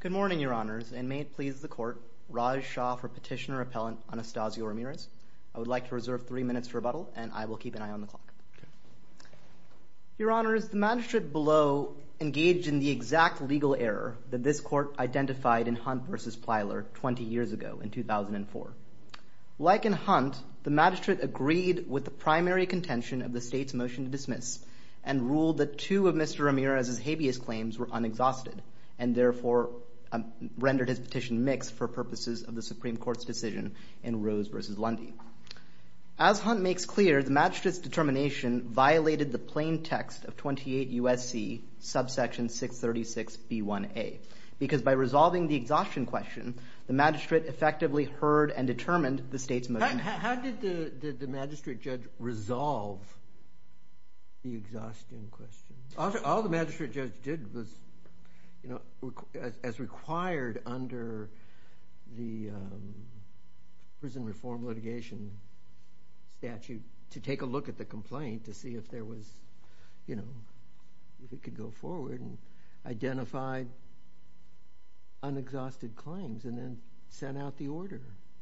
Good morning, Your Honors, and may it please the Court, Raj Shah for Petitioner-Appellant Anastacio Ramirez. I would like to reserve three minutes for rebuttal, and I will keep an eye on the clock. Your Honors, the Magistrate below engaged in the exact legal error that this Court identified in Hunt v. Plyler 20 years ago, in 2004. Like in Hunt, the Magistrate agreed with the primary contention of the State's motion to dismiss, and ruled that two of Mr. Ramirez's habeas claims were unexhausted, and therefore rendered his petition mixed for purposes of the Supreme Court's decision in Rose v. Lundy. As Hunt makes clear, the Magistrate's determination violated the plain text of 28 U.S.C. subsection 636b1a, because by resolving the exhaustion question, the Magistrate effectively heard and determined the State's motion. How did the Magistrate judge resolve the exhaustion question? All the Magistrate judge did was, as required under the Prison Reform Litigation statute, to take a look at the complaint to see if there was, you know, if it could go forward, and identified unexhausted claims, and then sent out the order,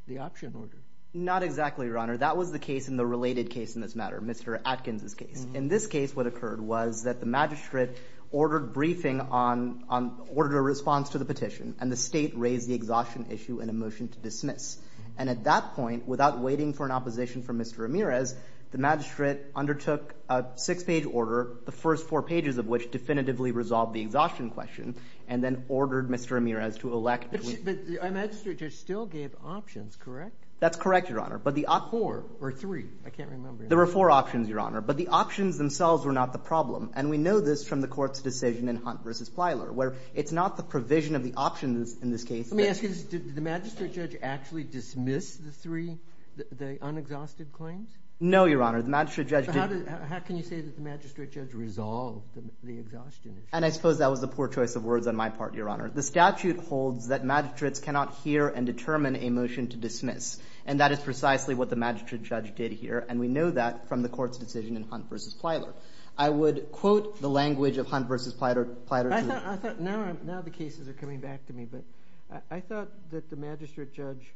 the option order. Not exactly, Your Honor. That was the case in the related case in this matter, Mr. Atkins' case. In this case, what occurred was that the Magistrate ordered briefing on the order of response to the petition, and the State raised the exhaustion issue in a motion to dismiss. And at that point, without waiting for an opposition from Mr. Ramirez, the Magistrate undertook a six-page order, the first four pages of which definitively resolved the exhaustion question, and then ordered Mr. Ramirez to elect. But the Magistrate judge still gave options, correct? That's correct, Your Honor. But the options were four or three. I can't remember. There were four options, Your Honor. But the options themselves were not the problem. And we know this from the Court's decision in Hunt v. Plyler, where it's not the provision of the options in this case. Let me ask you this. Did the Magistrate judge actually dismiss the three, the unexhausted claims? No, Your Honor. The Magistrate judge did. So how can you say that the Magistrate judge resolved the exhaustion issue? And I suppose that was a poor choice of words on my part, Your Honor. The statute holds that Magistrates cannot hear and determine a motion to dismiss. And that is precisely what the Magistrate judge did here. And we know that from the Court's decision in Hunt v. Plyler. I would quote the language of Hunt v. Plyler to the Court. Now the cases are coming back to me. But I thought that the Magistrate judge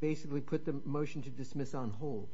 basically put the motion to dismiss on hold.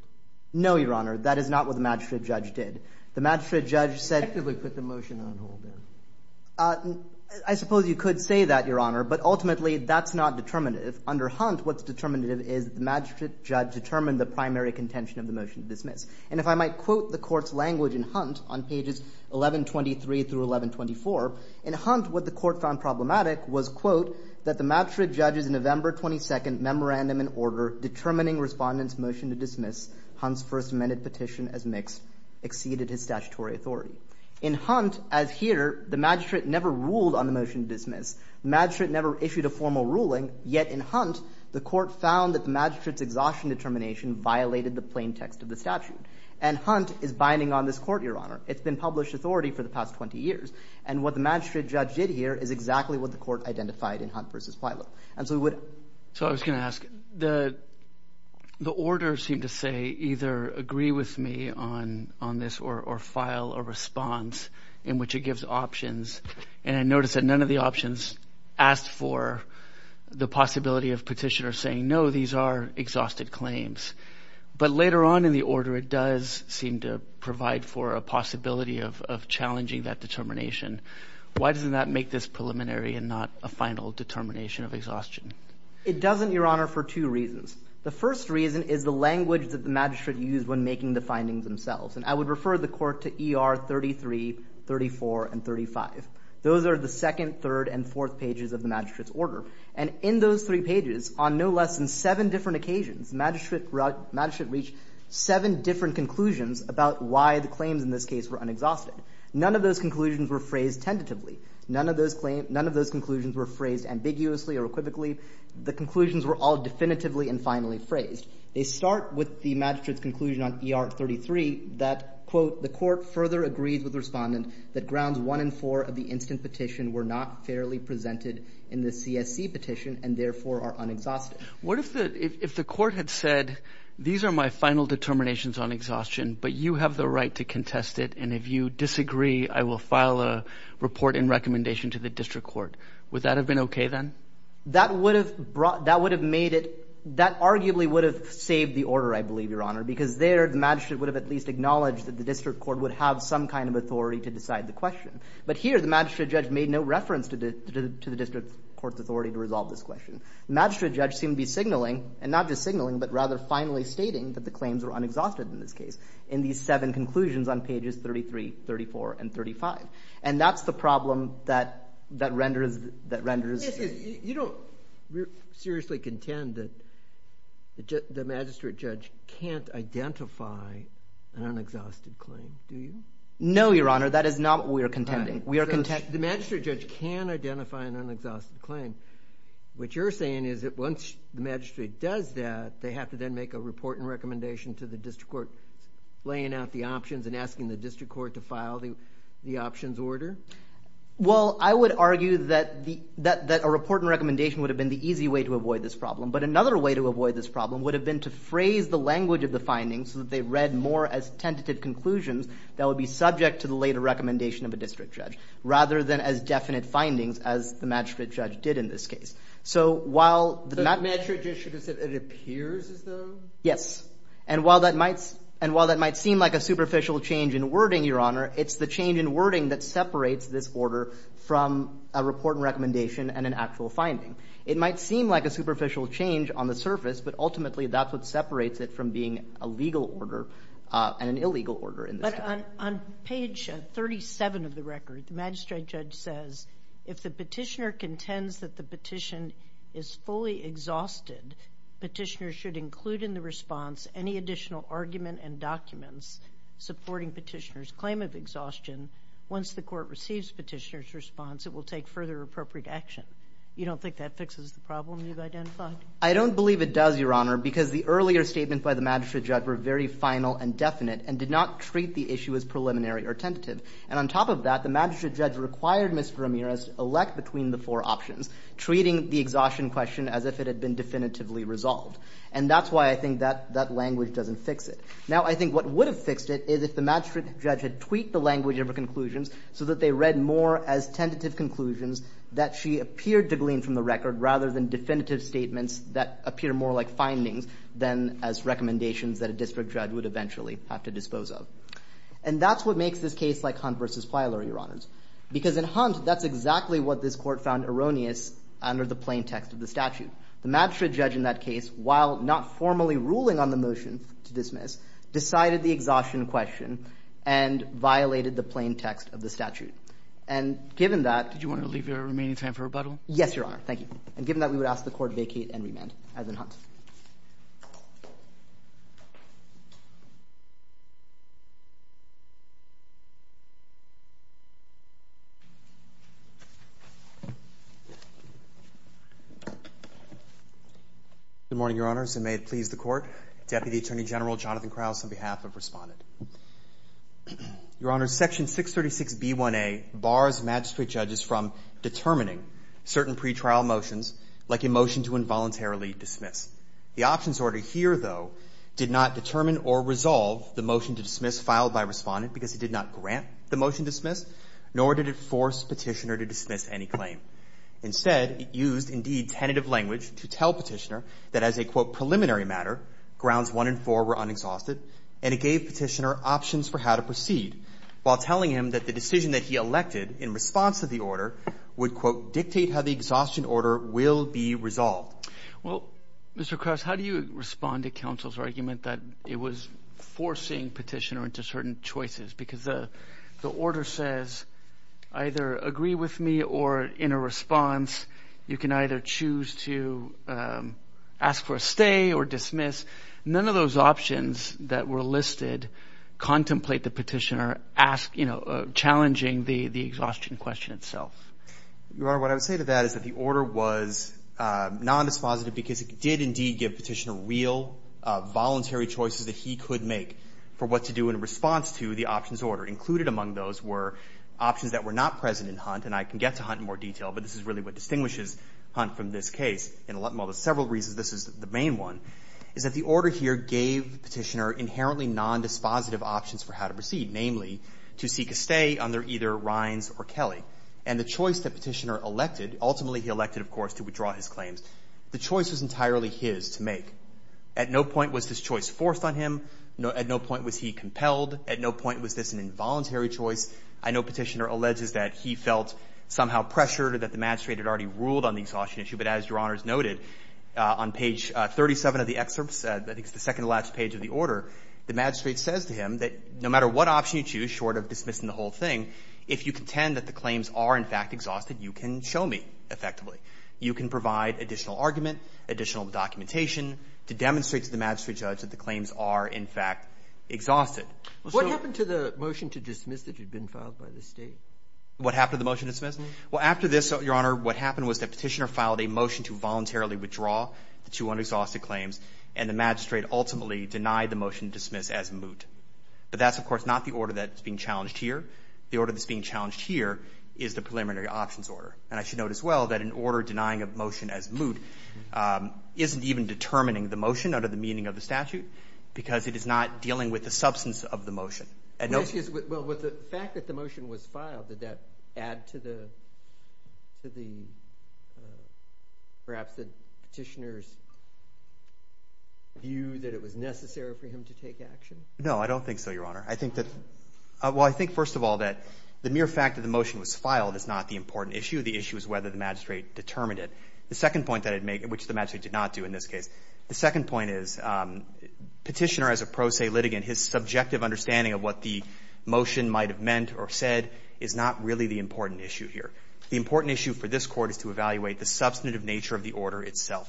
No, Your Honor. That is not what the Magistrate judge did. The Magistrate judge said He effectively put the motion on hold, then. I suppose you could say that, Your Honor. But ultimately, that's not determinative. Under Hunt, what's determinative is the Magistrate judge determined the primary contention of the motion to dismiss. And if I might quote the Court's language in Hunt on pages 1123 through 1124, in Hunt, what the Court found problematic was, quote, that the Magistrate judge's November 22nd memorandum in order determining Respondent's motion to dismiss Hunt's First Amendment petition as mixed exceeded his statutory authority. In Hunt, as here, the Magistrate never ruled on the motion to dismiss. The Magistrate never issued a formal ruling. Yet in Hunt, the Court found that the Magistrate's exhaustion determination violated the plain text of the statute. And Hunt is binding on this Court, Your Honor. It's been published authority for the past 20 years. And what the Magistrate judge did here is exactly what the Court identified in Hunt v. Plyler. And so we would... So I was going to ask, the orders seem to say either agree with me on this or file a response in which it gives options. And I noticed that none of the options asked for the possibility of petitioners saying, no, these are exhausted claims. But later on in the order, it does seem to provide for a possibility of challenging that determination. Why doesn't that make this preliminary and not a final determination of exhaustion? It doesn't, Your Honor, for two reasons. The first reason is the language that the Magistrate used when making the findings themselves. And I would refer the Court to ER 33, 34, and 35. Those are the second, third, and fourth pages of the Magistrate's order. And in those three pages, on no less than seven different occasions, the Magistrate reached seven different conclusions about why the claims in this case were unexhausted. None of those conclusions were phrased tentatively. None of those conclusions were phrased ambiguously or equivocally. The conclusions were all definitively and finally phrased. They start with the Magistrate's conclusion on ER 33 that, quote, the Court further agrees with Respondent that grounds one and four of the instant petition were not fairly presented in the CSC petition and therefore are unexhausted. What if the Court had said, these are my final determinations on exhaustion, but you have the right to contest it. And if you disagree, I will file a report and recommendation to the district court. Would that have been okay then? That would have brought – that would have made it – that arguably would have saved the order, I believe, Your Honor, because there the Magistrate would have at least acknowledged that the district court would have some kind of authority to decide the question. But here, the Magistrate judge made no reference to the district court's authority to resolve this question. The Magistrate judge seemed to be signaling – and not just signaling, but rather finally stating – that the claims were unexhausted in this case in these seven conclusions on pages 33, 34, and 35. And that's the problem that renders – that renders – You don't seriously contend that the Magistrate judge can't identify an unexhausted claim, do you? No, Your Honor, that is not what we are contending. We are – The Magistrate judge can identify an unexhausted claim. What you're saying is that once the Magistrate does that, they have to then make a report and recommendation to the district court laying out the options and asking the district court to file the options order? Well, I would argue that the – that a report and recommendation would have been the easy way to avoid this problem. But another way to avoid this problem would have been to phrase the language of the findings so that they read more as tentative conclusions that would be subject to the later recommendation of a district judge, rather than as definite findings as the Magistrate judge did in this case. So while – The Magistrate judge should have said, it appears as though? Yes. And while that might – and while that might seem like a superficial change in wording, Your Honor, it's the change in wording that separates this order from a report and recommendation and an actual finding. It might seem like a superficial change on the surface, but ultimately that's what separates it from being a legal order and an illegal order in this case. But on – on page 37 of the record, the Magistrate judge says, if the petitioner contends that the petition is fully exhausted, petitioner should include in the response any additional argument and documents supporting petitioner's claim of exhaustion. Once the court receives petitioner's response, it will take further appropriate action. You don't think that fixes the problem you've identified? I don't believe it does, Your Honor, because the earlier statements by the Magistrate judge were very final and definite and did not treat the issue as preliminary or tentative. And on top of that, the Magistrate judge required Mr. Ramirez to elect between the four options, treating the exhaustion question as if it Now, I think what would have fixed it is if the Magistrate judge had tweaked the language of her conclusions so that they read more as tentative conclusions that she appeared to glean from the record rather than definitive statements that appear more like findings than as recommendations that a district judge would eventually have to dispose of. And that's what makes this case like Hunt v. Pilar, Your Honors, because in Hunt, that's exactly what this Court found erroneous under the plain text of the statute. The Magistrate judge in that case, while not formally ruling on the motion to dismiss, decided the exhaustion question and violated the plain text of the statute. And given that Did you want to leave your remaining time for rebuttal? Yes, Your Honor. Thank you. And given that, we would ask the Court vacate and remand. Good morning, Your Honors, and may it please the Court. Deputy Attorney General Jonathan Krauss on behalf of Respondent. Your Honors, Section 636B1A bars Magistrate judges from determining certain pretrial motions like a motion to involuntarily dismiss. The options order here, though, did not determine or resolve the motion to dismiss filed by Respondent because it did not grant the motion dismiss, nor did it force Petitioner to dismiss any claim. Instead, it used, indeed, tentative language to tell Petitioner that as a, quote, preliminary matter, Grounds 1 and 4 were unexhausted, and it gave Petitioner options for how to proceed, while telling him that the decision that he elected in response to the order would, quote, dictate how the exhaustion order will be resolved. Well, Mr. Krauss, how do you respond to counsel's argument that it was forcing Petitioner into certain choices? Because the order says either agree with me or, in a response, you can either choose to ask for a stay or dismiss. None of those options that were listed contemplate that Petitioner ask, you know, challenging the exhaustion question itself. Your Honor, what I would say to that is that the order was nondispositive because it did, indeed, give Petitioner real, voluntary choices that he could make for what to do in response to the options order. Included among those were options that were not present in Hunt, and I can get to Hunt in more detail, but this is really what distinguishes Hunt from this case, and one of the several reasons this is the main one, is that the order here gave Petitioner inherently nondispositive options for how to proceed, namely, to seek a stay under either Rines or Kelly. And the choice that Petitioner elected, ultimately he elected, of course, to withdraw his claims, the choice was entirely his to make. At no point was this choice forced on him. At no point was he compelled. At no point was this an involuntary choice. I know Petitioner alleges that he felt somehow pressured or that the magistrate had already ruled on the exhaustion issue, but as Your Honor has noted, on page 37 of the excerpts, I think it's the second to the last page of the order, the magistrate says to him that no matter what option you choose, short of dismissing the whole thing, if you contend that the claims are, in fact, exhausted, you can show me effectively. You can provide additional argument, additional documentation to demonstrate to the magistrate judge that the claim is exhausted. Breyer. What happened to the motion to dismiss that had been filed by the State? What happened to the motion to dismiss? Well, after this, Your Honor, what happened was that Petitioner filed a motion to voluntarily withdraw the two unexhausted claims, and the magistrate ultimately denied the motion to dismiss as moot. But that's, of course, not the order that's being challenged here. The order that's being challenged here is the preliminary options order. And I should note as well that an order denying a motion as moot isn't even determining the motion under the meaning of the statute, because it is not dealing with the substance of the motion. And no— Well, excuse me. Well, with the fact that the motion was filed, did that add to the — to the — perhaps the Petitioner's view that it was necessary for him to take action? No, I don't think so, Your Honor. I think that — well, I think, first of all, that the mere fact that the motion was filed is not the important issue. The issue is whether the magistrate determined it. The second point that I'd make, which the magistrate did not do in this case, the second point is Petitioner, as a pro se litigant, his subjective understanding of what the motion might have meant or said is not really the important issue here. The important issue for this Court is to evaluate the substantive nature of the order itself.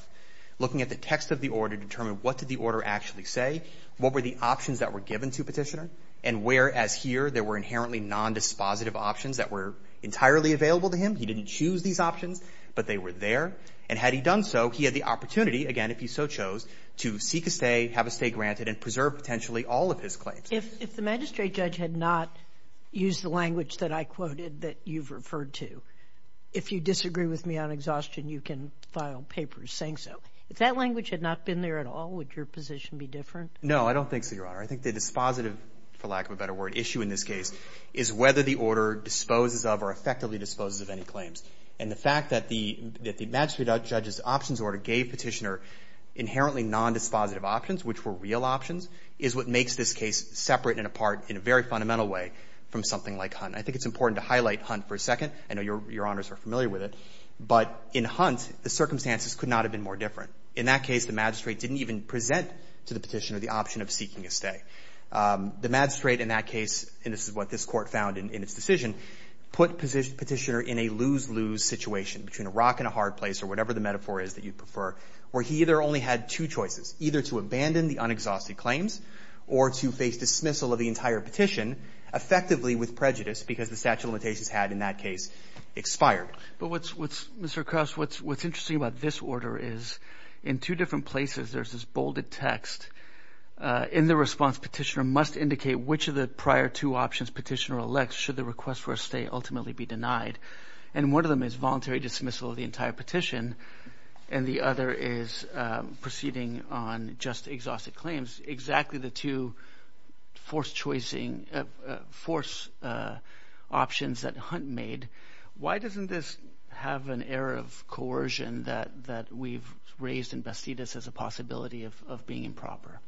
Looking at the text of the order to determine what did the order actually say, what were the options that were given to Petitioner, and where, as here, there were inherently nondispositive options that were entirely available to him. He didn't choose these options, but they were there. And had he done so, he had the opportunity, again, if he so chose, to seek a stay, have a stay granted, and preserve, potentially, all of his claims. If — if the magistrate judge had not used the language that I quoted that you've referred to, if you disagree with me on exhaustion, you can file papers saying so. If that language had not been there at all, would your position be different? No, I don't think so, Your Honor. I think the dispositive, for lack of a better word, issue in this case is whether the order disposes of or effectively disposes of any claims. And the fact that the — that the magistrate judge's options order gave Petitioner inherently nondispositive options, which were real options, is what makes this case separate and apart, in a very fundamental way, from something like Hunt. I think it's important to highlight Hunt for a second. I know Your Honors are familiar with it. But in Hunt, the circumstances could not have been more different. In that case, the magistrate didn't even present to the petitioner the option of seeking a stay. The magistrate, in that case — and this is what this Court found in its decision — put Petitioner in a lose-lose situation, between a rock and a hard place, or whatever the metaphor is that you prefer, where he either only had two choices, either to abandon the unexhausted claims or to face dismissal of the entire petition effectively with prejudice, because the statute of limitations had, in that case, expired. But what's — Mr. Krause, what's interesting about this order is, in two different places, there's this bolded text. In the response, Petitioner must indicate which of the prior two options Petitioner elects, should the request for a stay ultimately be denied. And one of them is voluntary dismissal of the entire petition, and the other is proceeding on just exhausted claims. Exactly the two forced-choicing — forced options that Hunt made. Why doesn't this have an air of coercion that we've raised in Bastidas as a possibility of being improper?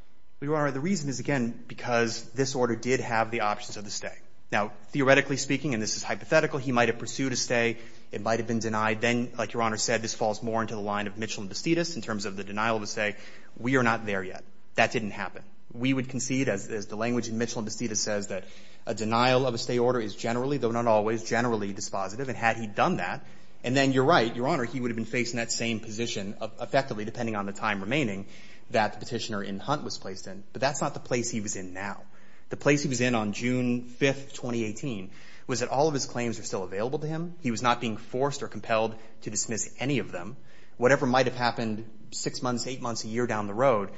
Well, Your Honor, the reason is, again, because this order did have the options of the stay. Now, theoretically speaking, and this is hypothetical, he might have pursued a stay. It might have been denied. Then, like Your Honor said, this falls more into the line of Mitchell and Bastidas in terms of the denial of a stay. We are not there yet. That didn't happen. We would concede, as the language in Mitchell and Bastidas says, that a denial of a stay order is generally, though not always, generally dispositive. And had he done that, and then, You're right, Your Honor, he would have been facing that same position effectively, depending on the time remaining, that the Petitioner in Hunt was placed in. But that's not the place he was in now. The place he was in on June 5th, 2018, was that all of his claims were still available to him. He was not being forced or compelled to dismiss any of them. Whatever might have happened six months, eight months, a year down the road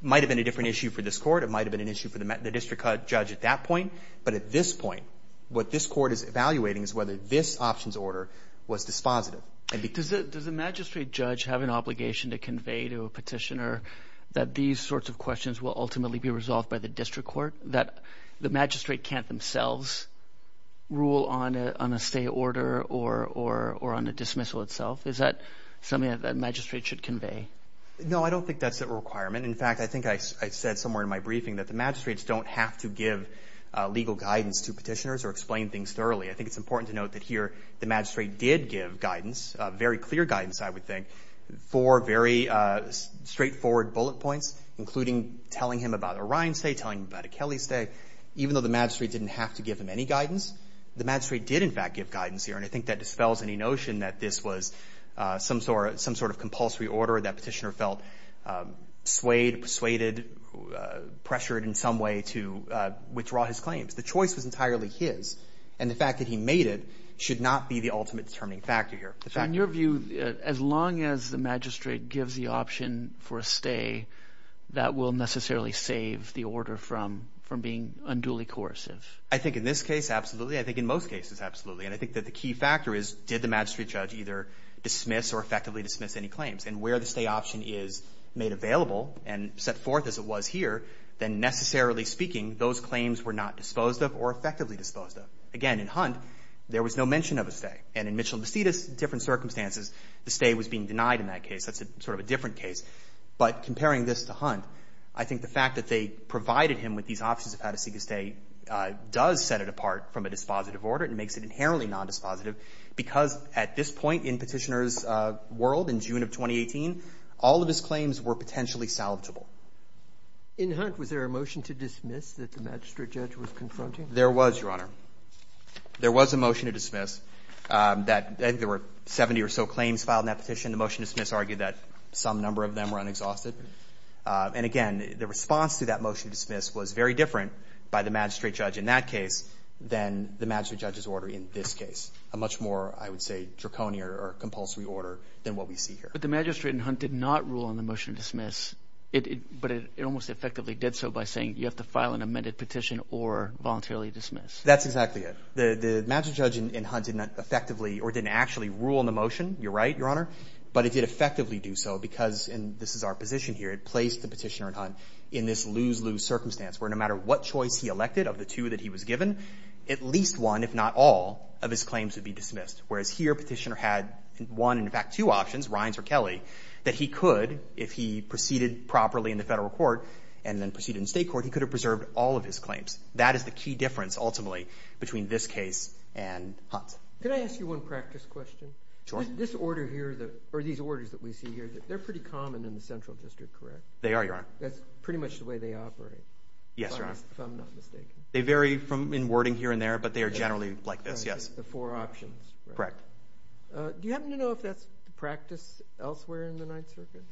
might have been a different issue for this Court. It might have been an issue for the district judge at that point. But at this point, what this Court is evaluating is whether this options order was dispositive. And does the magistrate judge have an obligation to convey to a petitioner that these sorts of questions will ultimately be resolved by the district court, that the magistrate can't themselves rule on a stay order or on a dismissal itself? Is that something that a magistrate should convey? No, I don't think that's a requirement. In fact, I think I said somewhere in my briefing that the magistrates don't have to give legal guidance to petitioners or explain things thoroughly. I think it's important to note that here the magistrate did give guidance, very clear guidance, I would think, for very straightforward bullet points, including telling him about a Ryan stay, telling him about a Kelly stay. Even though the magistrate didn't have to give him any guidance, the magistrate did, in fact, give guidance here. And I think that dispels any notion that this was some sort of compulsory order that petitioner felt swayed, persuaded, pressured in some way to withdraw his claims. The choice was entirely his. And the fact that he made it should not be the ultimate determining factor here. In your view, as long as the magistrate gives the option for a stay, that will necessarily save the order from being unduly coercive? I think in this case, absolutely. I think in most cases, absolutely. And I think that the key factor is, did the magistrate judge either dismiss or effectively dismiss any claims? And where the stay option is made available and set forth as it was here, then necessarily speaking, those claims were not disposed of or effectively disposed of. Again, in Hunt, there was no mention of a stay. And in Mitchell-Basitas, in different circumstances, the stay was being denied in that case. That's sort of a different case. But comparing this to Hunt, I think the fact that they provided him with these options of how to seek a stay does set it apart from a dispositive order and makes it inherently nondispositive, because at this point in Petitioner's world, in June of 2018, all of his claims were potentially salvageable. In Hunt, was there a motion to dismiss that the magistrate judge was confronting? There was, Your Honor. There was a motion to dismiss. I think there were 70 or so claims filed in that petition. The motion to dismiss argued that some number of them were unexhausted. And again, the response to that motion to dismiss was very different by the magistrate judge in that case than the magistrate judge's order in this case, a much more, I would say, draconian or compulsory order than what we see here. But the magistrate in Hunt did not rule on the motion to dismiss, but it almost effectively did so by saying you have to file an amended petition or voluntarily dismiss. That's exactly it. The magistrate judge in Hunt did not effectively or didn't actually rule on the motion. You're right, Your Honor. But it did effectively do so because, and this is our position here, it placed the Petitioner in Hunt in this lose-lose circumstance where no matter what choice he elected of the two that he was given, at least one, if not all, of his claims would be dismissed, whereas here Petitioner had one, in fact, two options, Rines or Kelly, that he could, if he proceeded properly in the Federal court and then proceeded in State court, he could have preserved all of his claims. That is the key difference, ultimately, between this case and Hunt. Can I ask you one practice question? Sure. This order here, or these orders that we see here, they're pretty common in the Central District, correct? They are, Your Honor. That's pretty much the way they operate. Yes, Your Honor. If I'm not mistaken. They vary in wording here and there, but they are generally like this, yes. The four options, right? Correct. Do you happen to know if that's the practice elsewhere in the Ninth Circuit?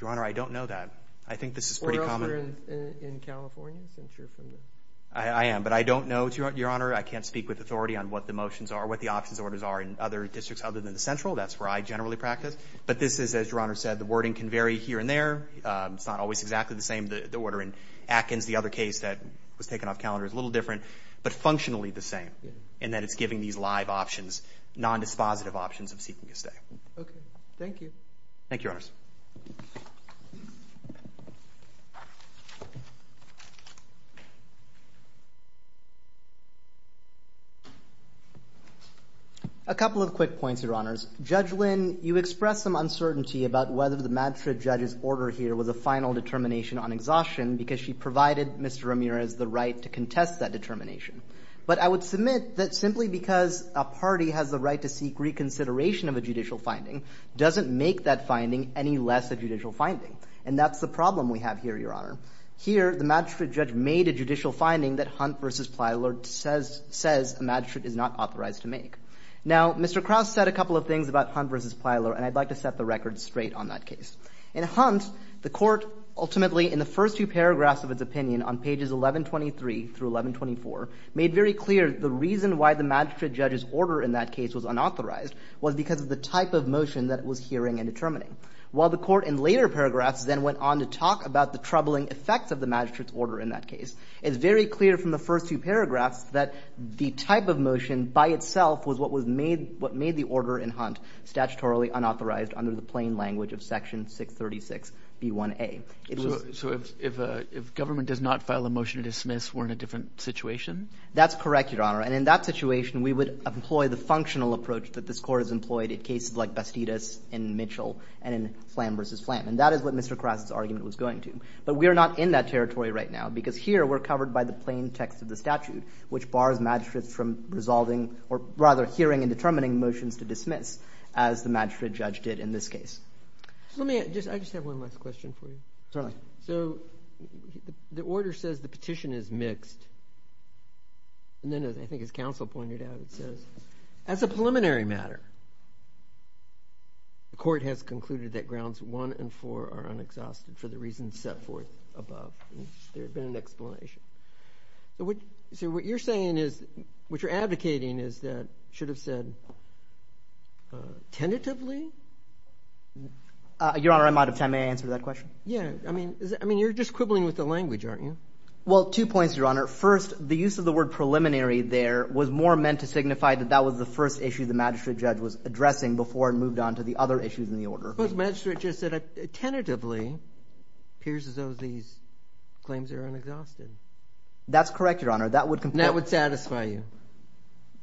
Your Honor, I don't know that. I think this is pretty common. You're in California, since you're from there? I am, but I don't know, Your Honor. I can't speak with authority on what the motions are, what the options orders are in other districts other than the Central. That's where I generally practice. But this is, as Your Honor said, the wording can vary here and there. It's not always exactly the same. The order in Atkins, the other case that was taken off calendar, is a little different, but functionally the same, in that it's giving these live options, non-dispositive options of seeking a stay. OK. Thank you. Thank you, Your Honors. A couple of quick points, Your Honors. Judge Lynn, you expressed some uncertainty about whether the Madtrid judge's order here was a final determination on exhaustion, because she provided Mr. Ramirez the right to contest that determination. But I would submit that simply because a party has the right to seek reconsideration of a judicial finding doesn't make that finding any less a judicial finding. And that's the problem we have here, Your Honor. Here, the Madtrid judge made a judicial finding that Hunt v. Plyler says a Madtrid is not authorized to make. Now, Mr. Krause said a couple of things about Hunt v. Plyler, and I'd like to set the record straight on that case. In Hunt, the Court ultimately, in the first two paragraphs of its opinion on pages 1123 through 1124, made very clear the reason why the Madtrid judge's order in that case was unauthorized was because of the type of motion that it was hearing and determining. While the Court in later paragraphs then went on to talk about the troubling effects of the Madtrid's order in that case, it's very clear from the first two paragraphs that the type of motion by itself was what was made, what made the order in Hunt statutorily unauthorized under the plain language of Section 636 B1A. So if a, if government does not file a motion to dismiss, we're in a different situation? That's correct, Your Honor. And in that situation, we would employ the functional approach that this Court has employed in cases like Bastidas and Mitchell and in Flam v. Flam. And that is what Mr. Krause's argument was going to. But we are not in that territory right now, because here we're covered by the plain text of the statute, which bars magistrates from resolving, or rather hearing and determining, motions to dismiss, as the Madtrid judge did in this case. Let me, just, I just have one last question for you. Certainly. So the order says the petition is mixed, and then as, I think as counsel pointed out, it says, as a preliminary matter. The Court has concluded that grounds one and four are unexhausted for the reasons set forth above. There's been an explanation. So what, so what you're saying is, what you're advocating is that, should have said, tentatively? Your Honor, I'm out of time. May I answer that question? Yeah. I mean, I mean, you're just quibbling with the language, aren't you? Well, two points, Your Honor. First, the use of the word preliminary there was more meant to signify that that was the first issue the magistrate judge was addressing before it moved on to the other issues in the order. But the magistrate just said, tentatively, it appears as though these claims are unexhausted. That's correct, Your Honor. That would completely. That would satisfy you.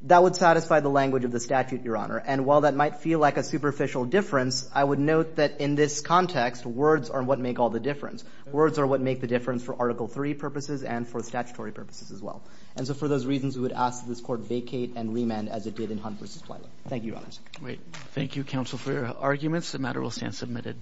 That would satisfy the language of the statute, Your Honor. And while that might feel like a superficial difference, I would note that in this context, words are what make all the difference. Words are what make the difference for Article III purposes and for statutory purposes as well. And so for those reasons, we would ask that this court vacate and remand as it did in Hunt v. Thank you, Your Honor. Great. Thank you, counsel, for your arguments. The matter will stand submitted.